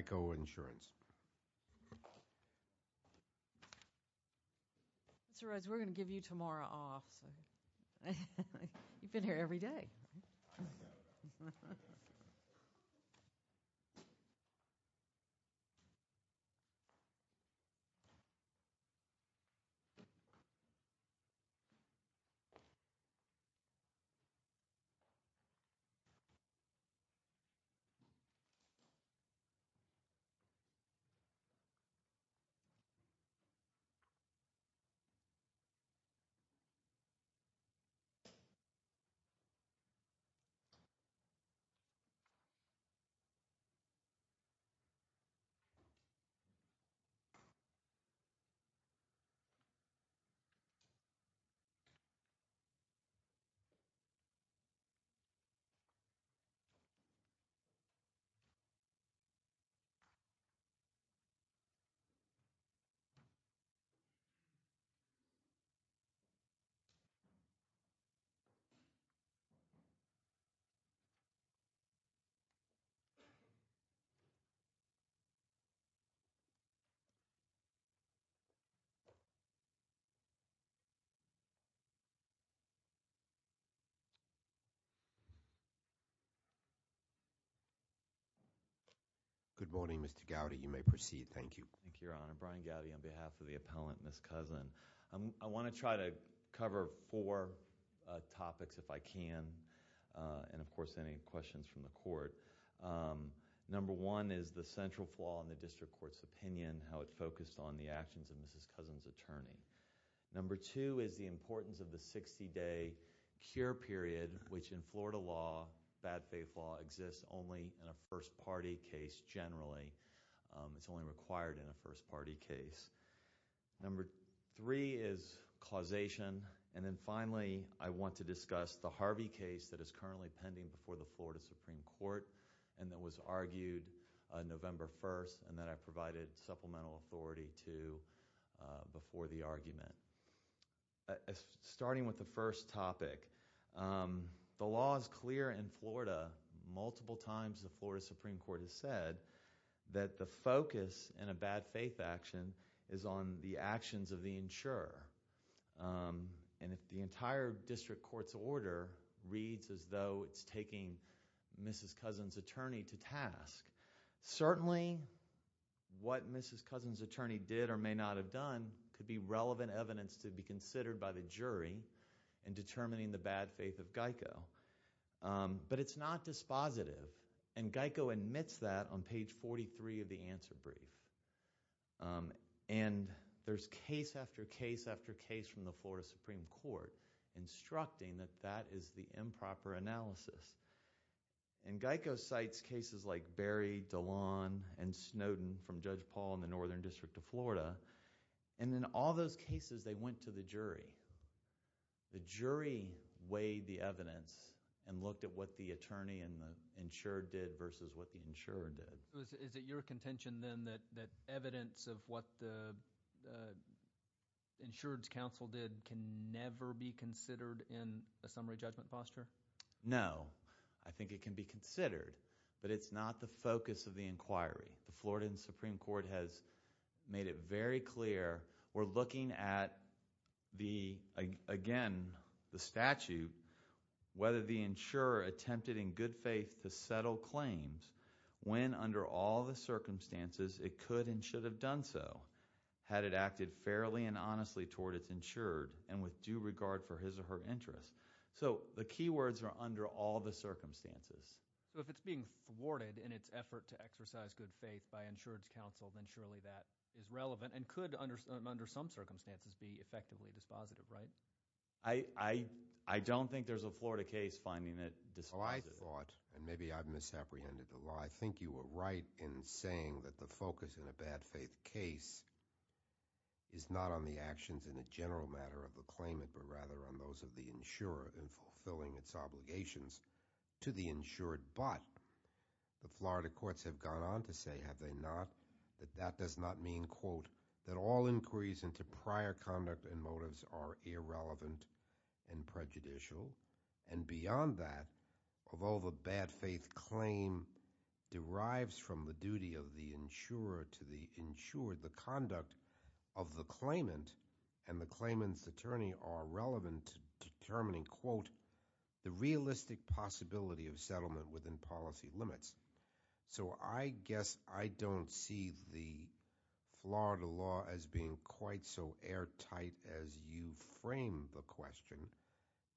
Geico Insurance. Mr. Rhodes, we're going to give you tomorrow off, so you've been here every day. You may proceed. Thank you. Thank you, Your Honor. Brian Gowdy on behalf of the appellant, Ms. Cousin. I want to try to cover four topics if I can, and of course, any questions from the court. Number one is the central flaw in the district court's opinion, how it's focused on the actions of Mrs. Cousin's attorney. Number two is the importance of the 60-day cure period, which in Florida law, bad faith law, exists only in a first party case generally. It's only required in a first party case. Number three is causation, and then finally, I want to discuss the Harvey case that is currently pending before the Florida Supreme Court, and that was argued November 1st, and that I provided supplemental authority to before the argument. Starting with the first topic, the law is clear in Florida. Multiple times, the Florida Supreme Court has said that the focus in a bad faith action is on the actions of the insurer, and if the entire district court's order reads as though it's taking Mrs. Cousin's attorney to task, certainly, what Mrs. Cousin's attorney did or may not have done could be relevant evidence to be considered by the jury in determining the bad faith of Geico. But it's not dispositive, and Geico admits that on page 43 of the answer brief, and there's case after case after case from the Florida Supreme Court instructing that that is the improper analysis, and Geico cites cases like Berry, Dillon, and Snowden from Judge Paul in the Northern District of Florida, and in all those cases, they went to the jury. The jury weighed the evidence and looked at what the attorney and the insured did versus what the insurer did. Is it your contention, then, that evidence of what the insured's counsel did can never be considered in a summary judgment posture? No. I think it can be considered, but it's not the focus of the inquiry. The Florida Supreme Court has made it very clear. We're looking at, again, the statute, whether the insurer attempted in good faith to settle claims when, under all the circumstances, it could and should have done so, had it acted fairly and honestly toward its insured and with due regard for his or her interests. The key words are under all the circumstances. If it's being thwarted in its effort to exercise good faith by insured's counsel, then surely that is relevant and could, under some circumstances, be effectively dispositive, right? I don't think there's a Florida case finding it dispositive. I thought, and maybe I've misapprehended the law, I think you were right in saying that the focus in a bad faith case is not on the actions in a general matter of the claimant, but rather on those of the insurer in fulfilling its obligations to the insured, but the Florida does not mean, quote, that all inquiries into prior conduct and motives are irrelevant and prejudicial. And beyond that, of all the bad faith claim derives from the duty of the insurer to the insured. The conduct of the claimant and the claimant's attorney are relevant to determining, quote, the realistic possibility of settlement within policy limits. So I guess I don't see the Florida law as being quite so airtight as you frame the question.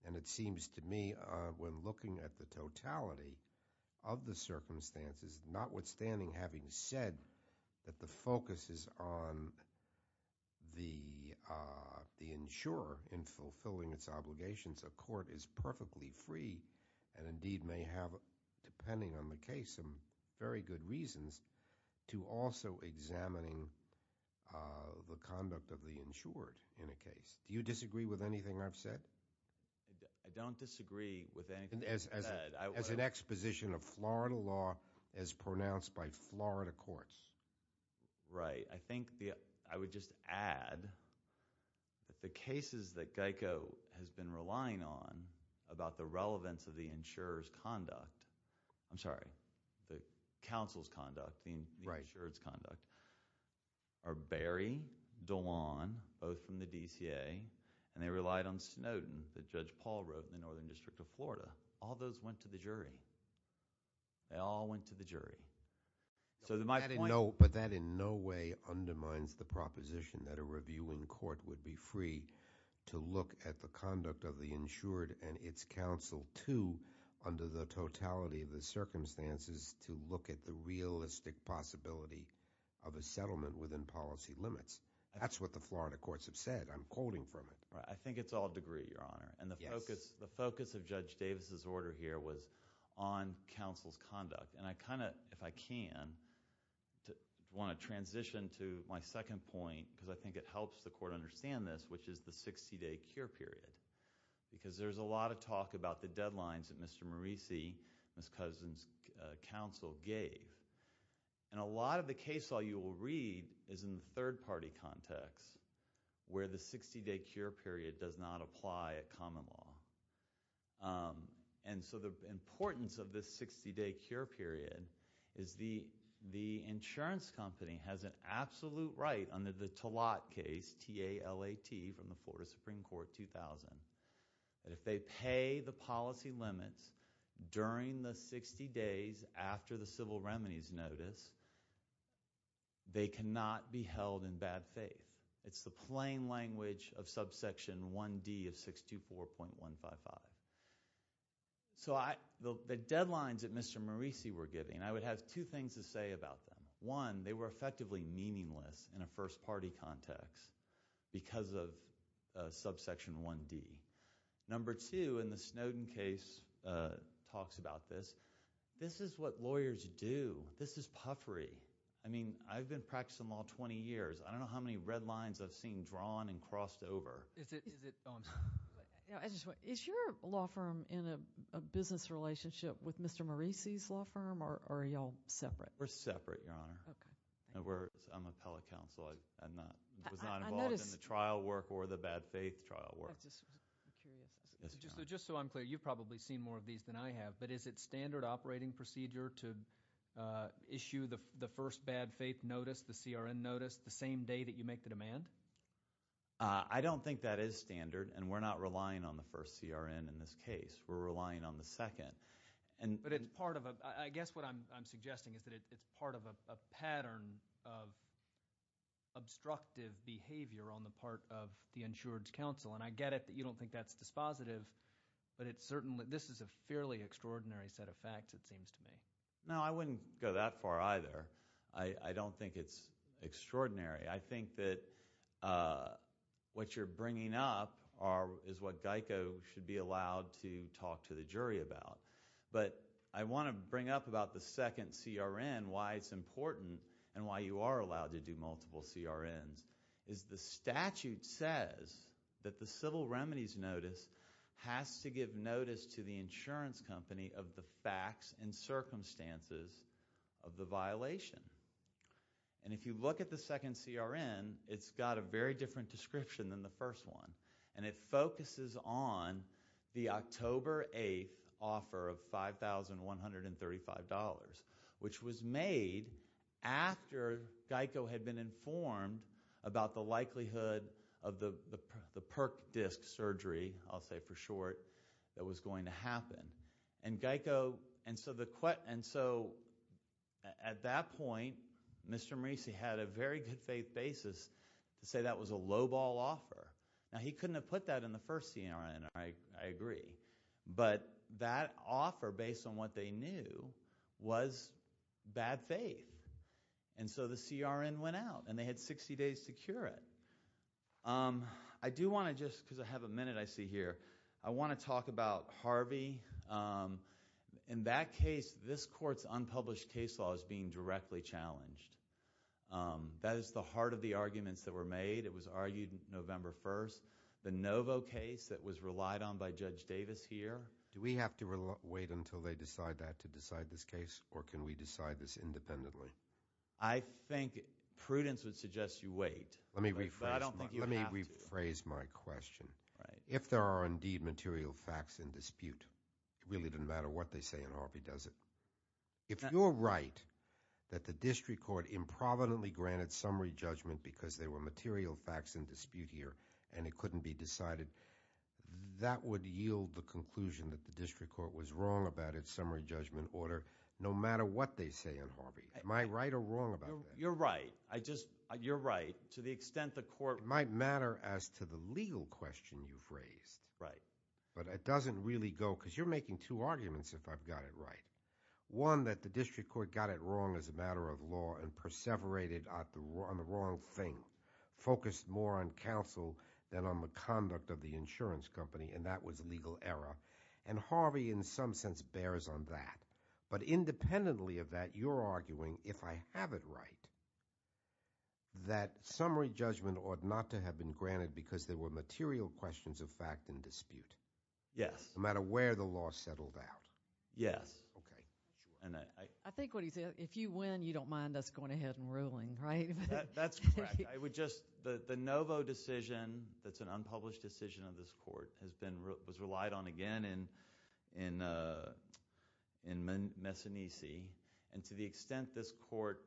And it seems to me, when looking at the totality of the circumstances, notwithstanding having said that the focus is on the insurer in fulfilling its obligations, a court is perfectly free. And indeed may have, depending on the case, some very good reasons to also examining the conduct of the insured in a case. Do you disagree with anything I've said? I don't disagree with anything you've said. As an exposition of Florida law as pronounced by Florida courts. Right, I think I would just add that the cases that Geico has been relying on about the relevance of the insurer's conduct, I'm sorry, the counsel's conduct, the insurer's conduct, are Berry, Dolan, both from the DCA. And they relied on Snowden, that Judge Paul wrote in the Northern District of Florida. All those went to the jury. They all went to the jury. So my point- But that in no way undermines the proposition that a reviewing court would be free to look at the conduct of the insured and its counsel, too, under the totality of the circumstances, to look at the realistic possibility of a settlement within policy limits. That's what the Florida courts have said. I'm quoting from it. I think it's all degree, Your Honor. And the focus of Judge Davis' order here was on counsel's conduct. And I kind of, if I can, want to transition to my second point, because I think it helps the court understand this, which is the 60-day cure period. Because there's a lot of talk about the deadlines that Mr. Morisi, Ms. Cousins' counsel gave. And a lot of the case law you will read is in the third-party context, where the 60-day cure period does not apply at common law. And so the importance of this 60-day cure period is the insurance company has an absolute right under the Talat case, T-A-L-A-T, from the Florida Supreme Court, 2000, that if they pay the policy limits during the 60 days after the civil remedies notice, they cannot be held in bad faith. It's the plain language of subsection 1D of 624.155. So the deadlines that Mr. Morisi were giving, I would have two things to say about them. One, they were effectively meaningless in a first-party context because of subsection 1D. Number two, in the Snowden case, talks about this. This is what lawyers do. This is puffery. I mean, I've been practicing law 20 years. I don't know how many red lines I've seen drawn and crossed over. Is it, oh, I'm sorry. Yeah, I just want, is your law firm in a business relationship with Mr. Morisi's law firm, or are y'all separate? We're separate, Your Honor. Okay. And we're, I'm an appellate counsel. I'm not, I was not involved in the trial work or the bad faith trial work. I just, I'm curious. So just so I'm clear, you've probably seen more of these than I have, but is it standard operating procedure to issue the first bad faith notice, the CRN notice, the same day that you make the demand? I don't think that is standard, and we're not relying on the first CRN in this case. We're relying on the second. But it's part of a, I guess what I'm suggesting is that it's part of a pattern of obstructive behavior on the part of the insured's counsel, and I get it that you don't think that's dispositive, but it's certainly, this is a fairly extraordinary set of facts, it seems to me. No, I wouldn't go that far either. I don't think it's extraordinary. I think that what you're bringing up is what GEICO should be allowed to talk to the jury about. But I want to bring up about the second CRN, why it's important, and why you are allowed to do multiple CRNs, is the statute says that the civil remedies notice has to give notice to the insurance company of the facts and circumstances of the violation. And if you look at the second CRN, it's got a very different description than the first one. And it focuses on the October 8th offer of $5,135, which was made after GEICO had been informed about the likelihood of the PERC disc surgery, I'll say for short, that was going to happen. And GEICO, and so the, and so at that point, Mr. Marisi had a very good faith basis to say that was a lowball offer. Now he couldn't have put that in the first CRN, I agree. But that offer, based on what they knew, was bad faith. And so the CRN went out, and they had 60 days to cure it. I do want to just, because I have a minute I see here, I want to talk about Harvey, in that case, this court's unpublished case law is being directly challenged. That is the heart of the arguments that were made. It was argued November 1st. The Novo case that was relied on by Judge Davis here. Do we have to wait until they decide that to decide this case, or can we decide this independently? I think prudence would suggest you wait. But I don't think you have to. Let me rephrase my question. Right. If there are indeed material facts in dispute, it really doesn't matter what they say in Harvey, does it? If you're right that the district court improvidently granted summary judgment because there were material facts in dispute here, and it couldn't be decided, that would yield the conclusion that the district court was wrong about its summary judgment order, no matter what they say in Harvey. Am I right or wrong about that? You're right. I just, you're right, to the extent the court- It might matter as to the legal question you've raised. Right. But it doesn't really go, because you're making two arguments if I've got it right. One, that the district court got it wrong as a matter of law and perseverated on the wrong thing, focused more on counsel than on the conduct of the insurance company, and that was legal error. And Harvey, in some sense, bears on that. But independently of that, you're arguing, if I have it right, that summary judgment ought not to have been granted because there were material questions of fact in dispute. Yes. No matter where the law settled out. Yes. Okay. And I- I think what he said, if you win, you don't mind us going ahead and ruling, right? That's correct. I would just, the Novo decision, that's an unpublished decision of this court, has been, was relied on again in Messinese. And to the extent this court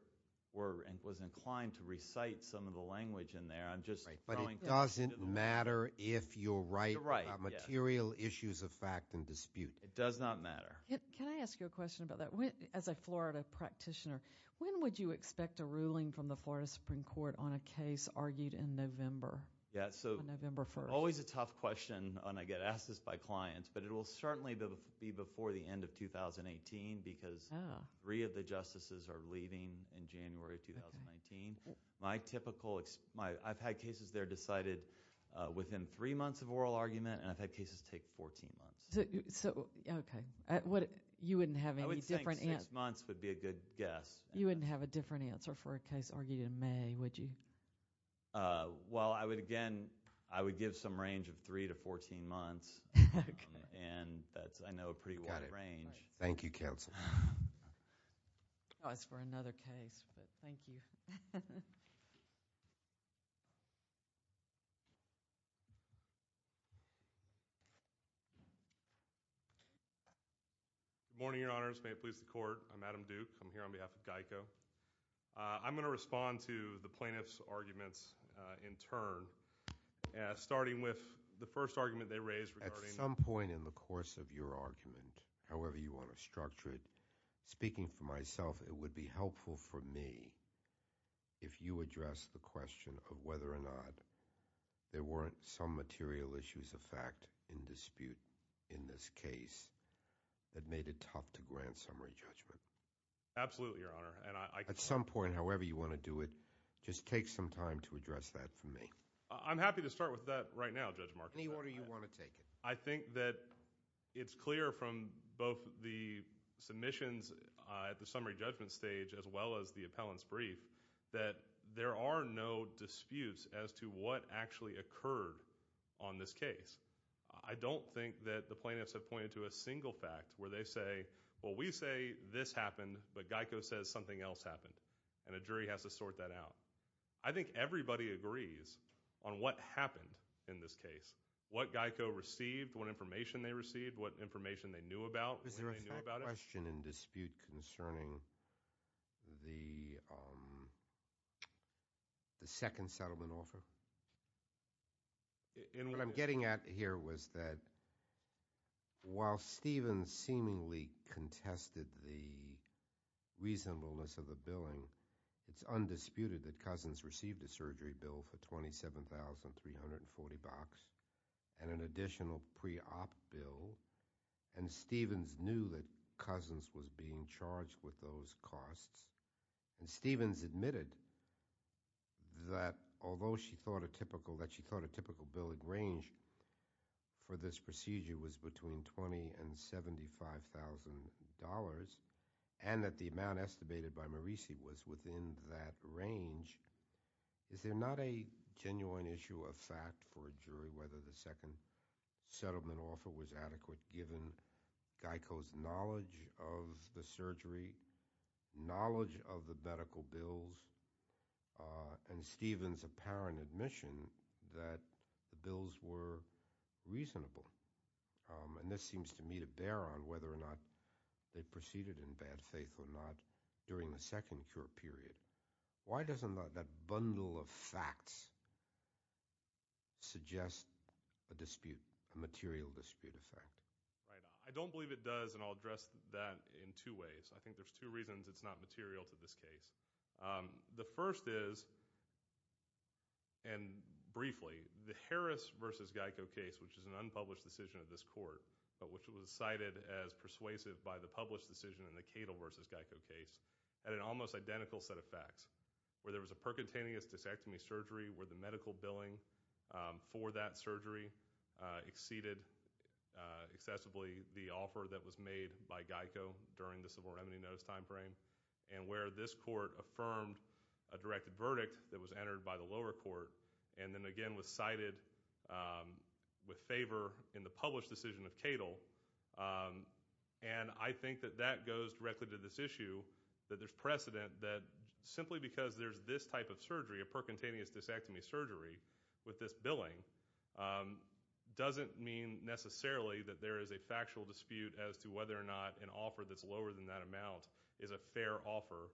were, and was inclined to recite some of the language in there, I'm just throwing- But it doesn't matter if you're right about material issues of fact in dispute. It does not matter. Can I ask you a question about that? As a Florida practitioner, when would you expect a ruling from the Florida Supreme Court on a case argued in November? Yeah, so- On November 1st. Always a tough question, and I get asked this by clients, but it will certainly be before the end of 2018 because three of the justices are leaving in January of 2019. My typical, I've had cases there decided within three months of oral argument, and I've had cases take 14 months. So, okay. You wouldn't have any different- I would think six months would be a good guess. You wouldn't have a different answer for a case argued in May, would you? Well, I would again, I would give some range of three to 14 months. Okay. And that's, I know, a pretty wide range. Thank you, counsel. Oh, it's for another case, but thank you. Thank you. Good morning, your honors. May it please the court. I'm Adam Duke. I'm here on behalf of GEICO. I'm going to respond to the plaintiff's arguments in turn, starting with the first argument they raised regarding- At some point in the course of your argument, however you want to structure it, speaking for myself, it would be helpful for me if you address the question of whether or not there weren't some material issues of fact in dispute in this case that made it tough to grant summary judgment. Absolutely, your honor. And I- At some point, however you want to do it, just take some time to address that for me. I'm happy to start with that right now, Judge Marcus. Any order you want to take? I think that it's clear from both the submissions at the summary judgment stage, as well as the appellant's brief, that there are no disputes as to what actually occurred on this case. I don't think that the plaintiffs have pointed to a single fact where they say, well, we say this happened, but GEICO says something else happened, and a jury has to sort that out. I think everybody agrees on what happened in this case, what GEICO received, what information they received, what information they knew about when they knew about it. Is there a question in dispute concerning the second settlement offer? What I'm getting at here was that while Stevens seemingly contested the reasonableness of the billing, it's undisputed that Cousins received a surgery bill for $27,340 and an additional pre-op bill, and Stevens knew that Cousins was being charged with those costs, and Stevens admitted that although she thought a typical billing range for this procedure was between $20,000 and $75,000, and that the amount estimated by Maurice was within that range, is there not a genuine issue of fact for a jury as to whether the second settlement offer was adequate given GEICO's knowledge of the surgery, knowledge of the medical bills, and Stevens' apparent admission that the bills were reasonable? And this seems to me to bear on whether or not they proceeded in bad faith or not during the second cure period. Why doesn't that bundle of facts suggest a dispute, a material dispute effect? Right. I don't believe it does, and I'll address that in two ways. I think there's two reasons it's not material to this case. The first is, and briefly, the Harris versus GEICO case, which is an unpublished decision of this court, but which was cited as persuasive by the published decision in the Cadle versus GEICO case, had an almost identical set of facts, where there was a percutaneous disectomy surgery where the medical billing for that surgery exceeded excessively the offer that was made by GEICO during the civil remedy notice timeframe, and where this court affirmed a directed verdict that was entered by the lower court, and then again was cited with favor in the published decision of Cadle. And I think that that goes directly to this issue, that there's precedent that simply because there's this type of surgery, a percutaneous disectomy surgery with this billing, doesn't mean necessarily that there is a factual dispute as to whether or not an offer that's lower than that amount is a fair offer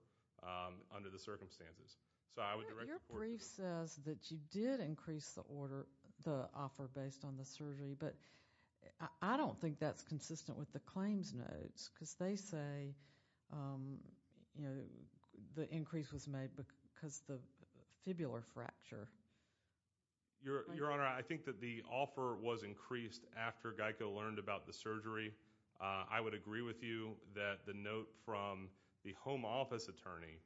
under the circumstances. So I would direct the court to that. Your brief says that you did increase the offer based on the surgery, but I don't think that's consistent with the claims notes, because they say the increase was made because of the fibular fracture. Your Honor, I think that the offer was increased after GEICO learned about the surgery. I would agree with you that the note from the home office attorney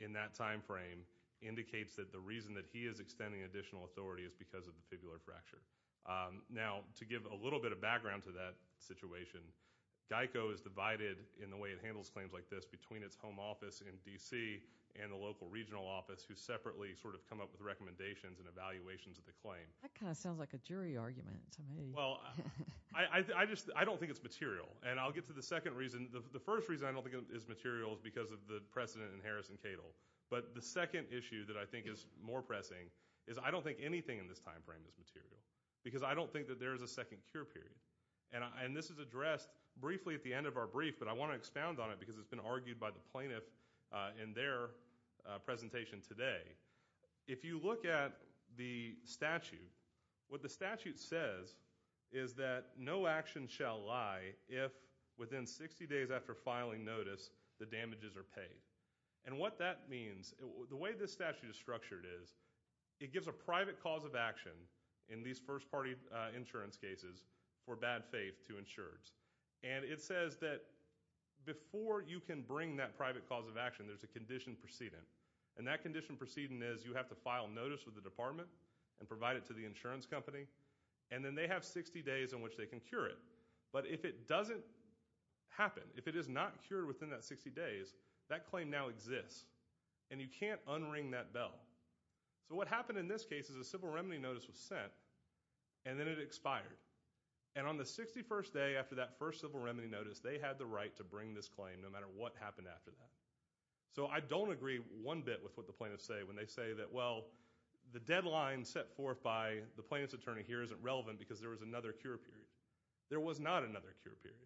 in that timeframe indicates that the reason that he is extending additional authority is because of the fibular fracture. Now, to give a little bit of background to that situation, GEICO is divided in the way it handles claims like this between its home office in D.C. and the local regional office who separately sort of come up with recommendations and evaluations of the claim. That kind of sounds like a jury argument to me. Well, I don't think it's material. And I'll get to the second reason. The first reason I don't think it's material is because of the precedent in Harris and Cadle. But the second issue that I think is more pressing is I don't think anything in this timeframe is material, because I don't think that there is a second cure period. And this is addressed briefly at the end of our brief, but I want to expound on it because it's been argued by the plaintiff in their presentation today. If you look at the statute, what the statute says is that no action shall lie if within 60 days after filing notice, the damages are paid. And what that means, the way this statute is structured is it gives a private cause of action in these first-party insurance cases for bad faith to insureds. And it says that before you can bring that private cause of action, there's a condition precedent. And that condition precedent is you have to file notice with the department and provide it to the insurance company and then they have 60 days in which they can cure it. But if it doesn't happen, if it is not cured within that 60 days, that claim now exists and you can't unring that bell. So what happened in this case is a civil remedy notice was sent and then it expired. And on the 61st day after that first civil remedy notice, they had the right to bring this claim no matter what happened after that. So I don't agree one bit with what the plaintiffs say when they say that, well, the deadline set forth by the plaintiff's attorney here isn't relevant because there was another cure period. There was not another cure period.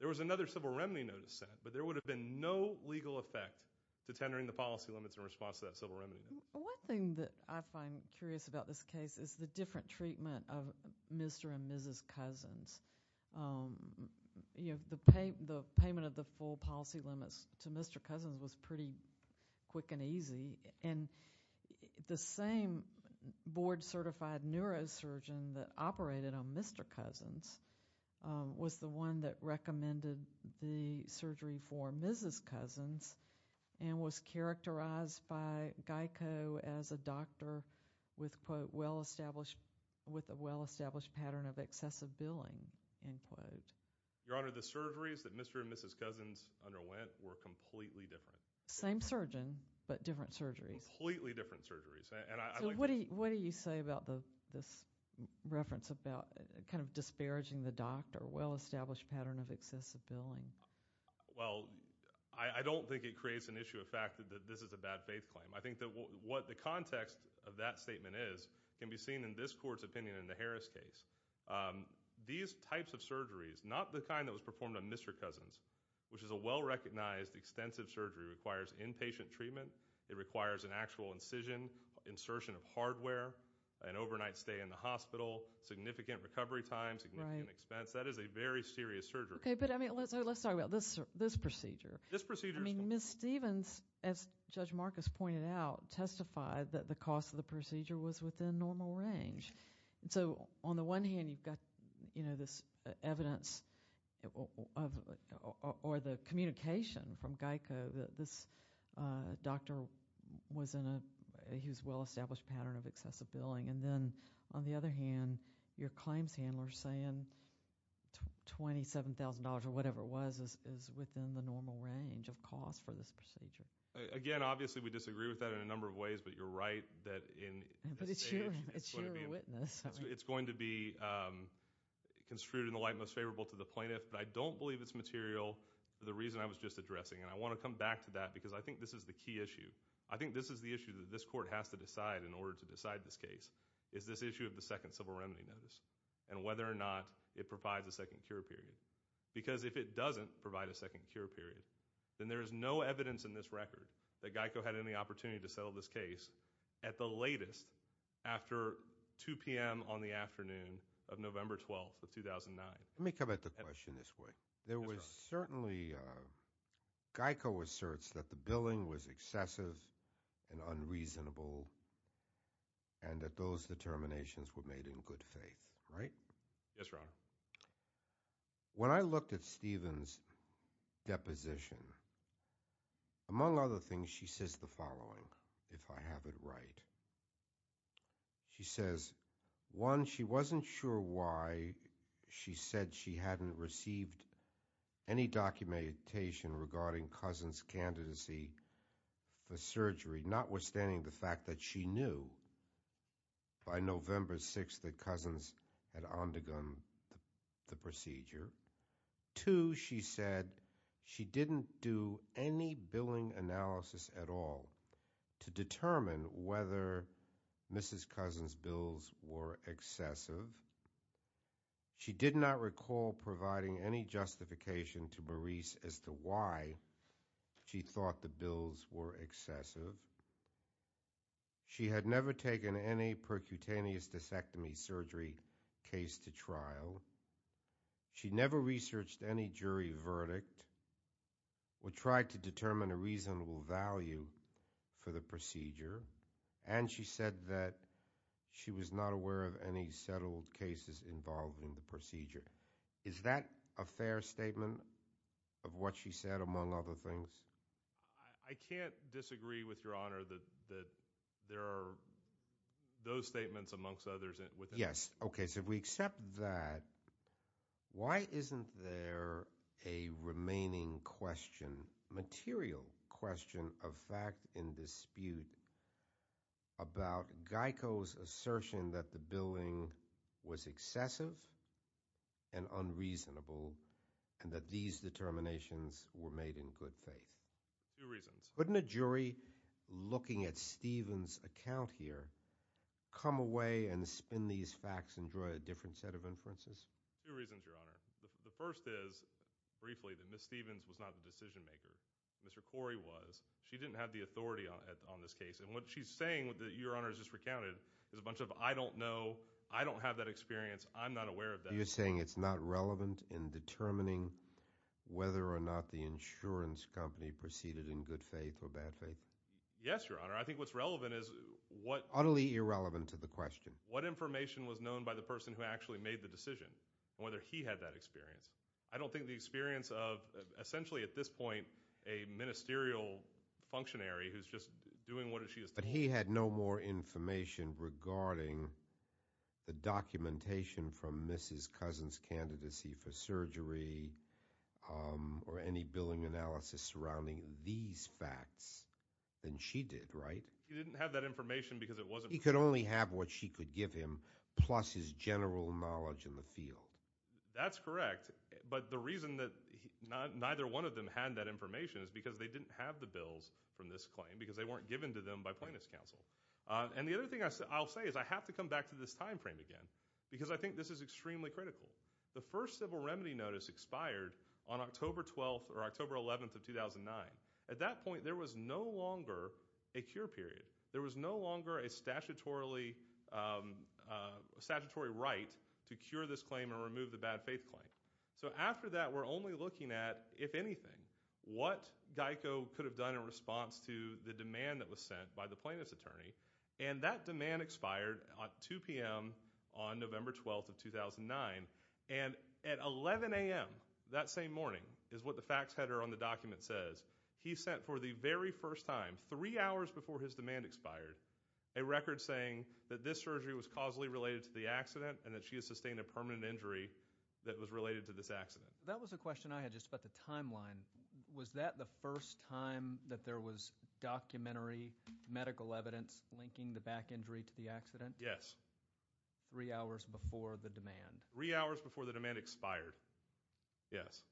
There was another civil remedy notice sent, but there would have been no legal effect to tendering the policy limits in response to that civil remedy notice. One thing that I find curious about this case is the different treatment of Mr. and Mrs. Cousins. You know, the payment of the full policy limits to Mr. Cousins was pretty quick and easy. And the same board certified neurosurgeon that operated on Mr. Cousins was the one that recommended the surgery for Mrs. Cousins and was characterized by Geico as a doctor with quote, well-established, with a well-established pattern of excessive billing, end quote. Your Honor, the surgeries that Mr. and Mrs. Cousins underwent were completely different. Same surgeon, but different surgeries. Completely different surgeries. And I like- So what do you say about this reference about kind of disparaging the doctor, well-established pattern of excessive billing? Well, I don't think it creates an issue of fact that this is a bad faith claim. I think that what the context of that statement is can be seen in this court's opinion in the Harris case. These types of surgeries, not the kind that was performed on Mr. Cousins, which is a well-recognized extensive surgery, requires inpatient treatment. It requires an actual incision, insertion of hardware, an overnight stay in the hospital, significant recovery time, significant expense. That is a very serious surgery. Okay, but I mean, let's talk about this procedure. This procedure is- I mean, Ms. Stevens, as Judge Marcus pointed out, testified that the cost of the procedure was within normal range. So on the one hand, you've got this evidence or the communication from Geico that this doctor was in a, he was well-established pattern of excessive billing. And then, on the other hand, your claims handlers saying $27,000 or whatever it was is within the normal range of cost for this procedure. Again, obviously, we disagree with that in a number of ways, but you're right that in- But it's your witness. It's going to be construed in the light most favorable to the plaintiff, but I don't believe it's material for the reason I was just addressing. And I wanna come back to that because I think this is the key issue. I think this is the issue that this court has to decide in order to decide this case is this issue of the second civil remedy notice and whether or not it provides a second cure period. Because if it doesn't provide a second cure period, then there is no evidence in this record that Geico had any opportunity to settle this case at the latest after 2 p.m. on the afternoon of November 12th of 2009. Let me come at the question this way. There was certainly, Geico asserts that the billing was excessive and unreasonable and that those determinations were made in good faith. Right? Yes, Your Honor. When I looked at Stephen's deposition, among other things, she says the following, if I have it right. She says, one, she wasn't sure why she said she hadn't received any documentation regarding Cousin's candidacy for surgery, notwithstanding the fact that she knew by November 6th that Cousin's had undergone the procedure. Two, she said she didn't do any billing analysis at all to determine whether Mrs. Cousin's bills were excessive. She did not recall providing any justification to Maurice as to why she thought the bills were excessive. She had never taken any percutaneous discectomy surgery case to trial. She never researched any jury verdict or tried to determine a reasonable value for the procedure. And she said that she was not aware of any settled cases involving the procedure. Is that a fair statement of what she said, among other things? I can't disagree with Your Honor that there are those statements amongst others within. Yes, okay, so we accept that. Why isn't there a remaining question, material question of fact in dispute about Geico's assertion that the billing was excessive? And unreasonable? And that these determinations were made in good faith? Two reasons. Wouldn't a jury looking at Stephen's account here come away and spin these facts and draw a different set of inferences? Two reasons, Your Honor. The first is, briefly, that Ms. Stephens was not the decision maker. Mr. Corey was. She didn't have the authority on this case. And what she's saying that Your Honor has just recounted is a bunch of I don't know, I don't have that experience, I'm not aware of that. So you're saying it's not relevant in determining whether or not the insurance company proceeded in good faith or bad faith? Yes, Your Honor. I think what's relevant is what- Utterly irrelevant to the question. What information was known by the person who actually made the decision, and whether he had that experience? I don't think the experience of, essentially, at this point, a ministerial functionary who's just doing what she is told. But he had no more information regarding the documentation from Mrs. Cousin's candidacy for surgery, or any billing analysis surrounding these facts than she did, right? He didn't have that information because it wasn't- He could only have what she could give him, plus his general knowledge in the field. That's correct. But the reason that neither one of them had that information is because they didn't have the bills from this claim, because they weren't given to them by plaintiff's counsel. And the other thing I'll say is, I have to come back to this timeframe again, because I think this is extremely critical. The first civil remedy notice expired on October 12th, or October 11th of 2009. At that point, there was no longer a cure period. There was no longer a statutory right to cure this claim or remove the bad faith claim. So after that, we're only looking at, if anything, what GEICO could have done in response to the demand that was sent by the plaintiff's attorney. And that demand expired at 2 p.m. on November 12th of 2009. And at 11 a.m. that same morning, is what the facts header on the document says, he sent for the very first time, three hours before his demand expired, a record saying that this surgery was causally related to the accident, and that she has sustained a permanent injury that was related to this accident. That was a question I had just about the timeline. Was that the first time that there was documentary medical evidence linking the back injury to the accident? Yes. Three hours before the demand. Three hours before the demand expired, yes.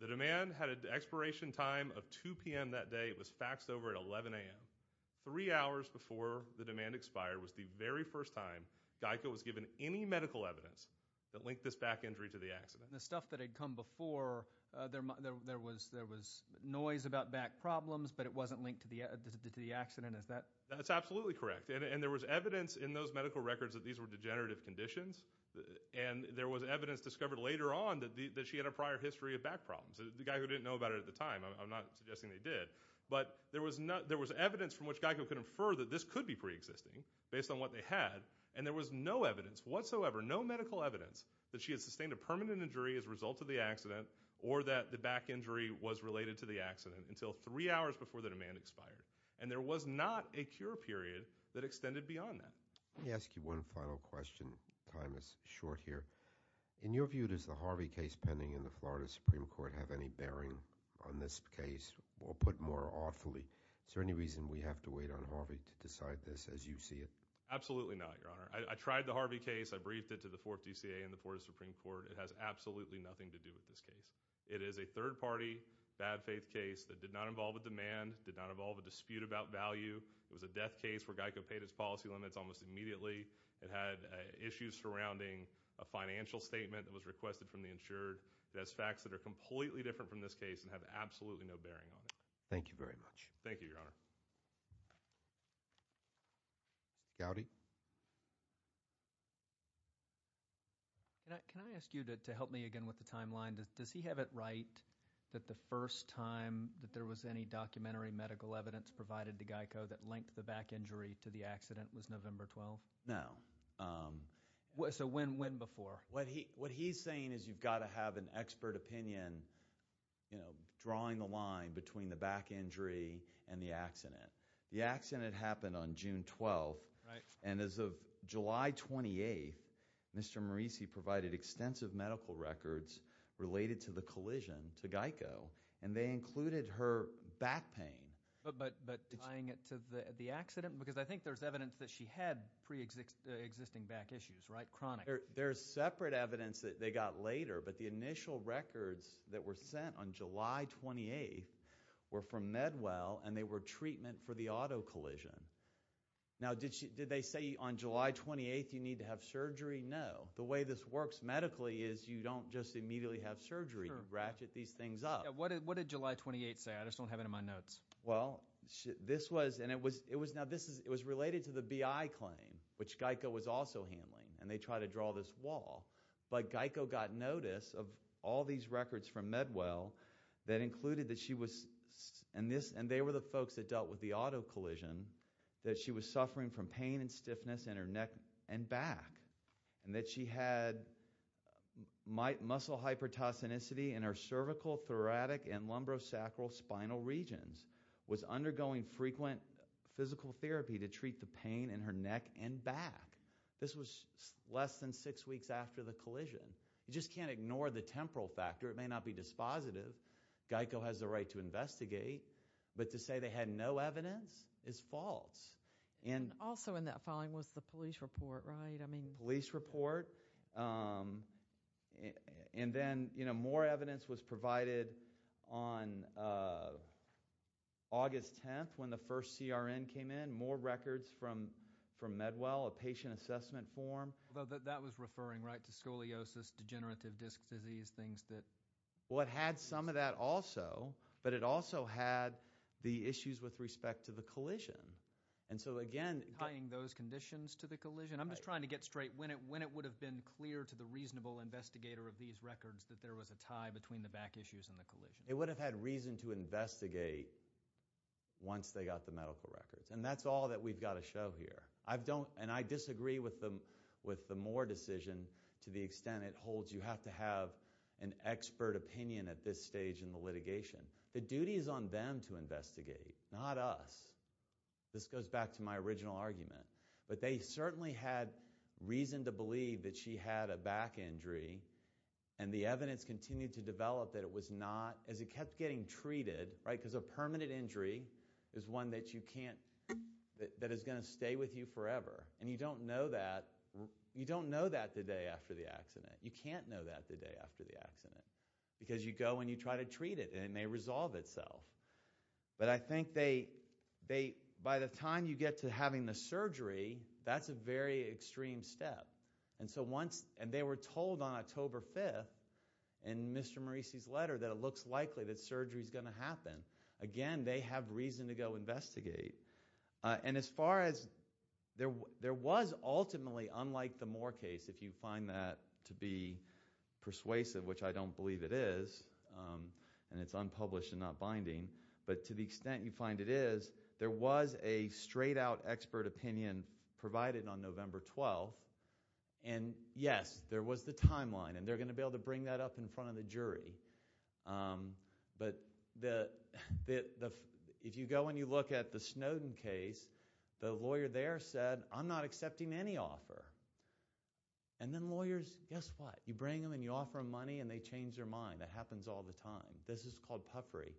The demand had an expiration time of 2 p.m. that day. It was faxed over at 11 a.m. Three hours before the demand expired was the very first time GEICO was given any medical evidence that linked this back injury to the accident. The stuff that had come before, there was noise about back problems, but it wasn't linked to the accident, is that? That's absolutely correct. And there was evidence in those medical records that these were degenerative conditions. And there was evidence discovered later on that she had a prior history of back problems. The guy who didn't know about it at the time, I'm not suggesting they did. But there was evidence from which GEICO could infer that this could be preexisting, based on what they had. And there was no evidence whatsoever, no medical evidence, that she had sustained a permanent injury as a result of the accident, or that the back injury was related to the accident, until three hours before the demand expired. And there was not a cure period that extended beyond that. Let me ask you one final question. Time is short here. In your view, does the Harvey case pending in the Florida Supreme Court have any bearing on this case, or put more awfully, is there any reason we have to wait on Harvey to decide this as you see it? Absolutely not, Your Honor. I tried the Harvey case. I briefed it to the 4th DCA and the Florida Supreme Court. It has absolutely nothing to do with this case. It is a third party, bad faith case that did not involve a demand, did not involve a dispute about value. It was a death case where GEICO paid its policy limits almost immediately. It had issues surrounding a financial statement that was requested from the insured. It has facts that are completely different from this case and have absolutely no bearing on it. Thank you very much. Thank you, Your Honor. Gowdy? Can I ask you to help me again with the timeline? Does he have it right that the first time that there was any documentary medical evidence provided to GEICO that linked the back injury to the accident was November 12th? No. So when before? What he's saying is you've got to have an expert opinion drawing the line between the back injury and the accident. The accident happened on June 12th, and as of July 28th, Mr. Morisi provided extensive medical records related to the collision to GEICO, and they included her back pain. But tying it to the accident, because I think there's evidence that she had pre-existing back issues, right, chronic. There's separate evidence that they got later, but the initial records that were sent on July 28th were from Medwell, and they were treatment for the auto collision. Now did they say on July 28th you need to have surgery? No. The way this works medically is you don't just immediately have surgery and ratchet these things up. What did July 28th say? I just don't have it in my notes. Well, this was, and it was, now this is, it was related to the BI claim, which GEICO was also handling, and they tried to draw this wall. But GEICO got notice of all these records from Medwell that included that she was, and they were the folks that dealt with the auto collision, that she was suffering from pain and stiffness in her neck and back, and that she had muscle hypertosinicity in her cervical, thoracic, and lumbosacral spinal regions, was undergoing frequent physical therapy to treat the pain in her neck and back. This was less than six weeks after the collision. You just can't ignore the temporal factor. It may not be dispositive. GEICO has the right to investigate, but to say they had no evidence is false, and. Also in that filing was the police report, right? I mean. Police report. And then, you know, more evidence was provided on August 10th when the first CRN came in, more records from Medwell, a patient assessment form. But that was referring, right, to scoliosis, degenerative disc disease, things that. Well, it had some of that also, but it also had the issues with respect to the collision. And so again. Tying those conditions to the collision. I'm just trying to get straight. When it would have been clear to the reasonable investigator of these records that there was a tie between the back issues and the collision? It would have had reason to investigate once they got the medical records, and that's all that we've gotta show here. I don't, and I disagree with the Moore decision to the extent it holds you have to have an expert opinion at this stage in the litigation. The duty is on them to investigate, not us. This goes back to my original argument. But they certainly had reason to believe that she had a back injury, and the evidence continued to develop that it was not, as it kept getting treated, right? Because a permanent injury is one that you can't, that is gonna stay with you forever. And you don't know that. You don't know that the day after the accident. You can't know that the day after the accident, because you go and you try to treat it, and it may resolve itself. But I think they, by the time you get to having the surgery, that's a very extreme step. And so once, and they were told on October 5th in Mr. Maurici's letter that it looks likely that surgery's gonna happen. Again, they have reason to go investigate. And as far as, there was ultimately, unlike the Moore case, if you find that to be persuasive, which I don't believe it is, and it's unpublished and not binding, but to the extent you find it is, there was a straight out expert opinion provided on November 12th. And yes, there was the timeline, and they're gonna be able to bring that up in front of the jury. But the, if you go and you look at the Snowden case, the lawyer there said, I'm not accepting any offer. And then lawyers, guess what? You bring them and you offer them money, and they change their mind. That happens all the time. This is called puffery.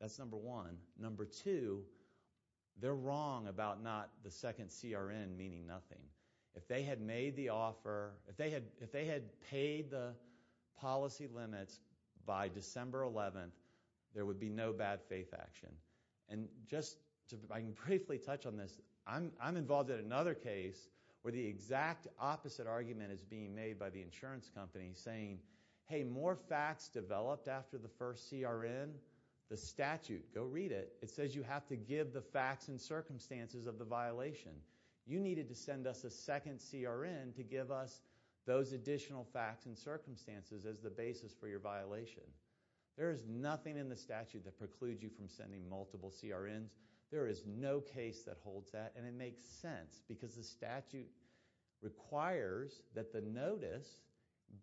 That's number one. Number two, they're wrong about not, the second CRN meaning nothing. If they had made the offer, if they had paid the policy limits by December 11th, there would be no bad faith action. And just to, I can briefly touch on this. I'm involved in another case where the exact opposite argument is being made by the insurance company saying, hey, more facts developed after the first CRN. The statute, go read it. It says you have to give the facts and circumstances of the violation. You needed to send us a second CRN to give us those additional facts and circumstances as the basis for your violation. There is nothing in the statute that precludes you from sending multiple CRNs. There is no case that holds that, and it makes sense because the statute requires that the notice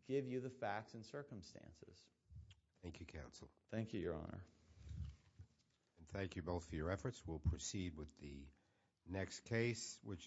give you the facts and circumstances. Thank you, counsel. Thank you, your honor. Thank you both for your efforts. We'll proceed with the next case, which is.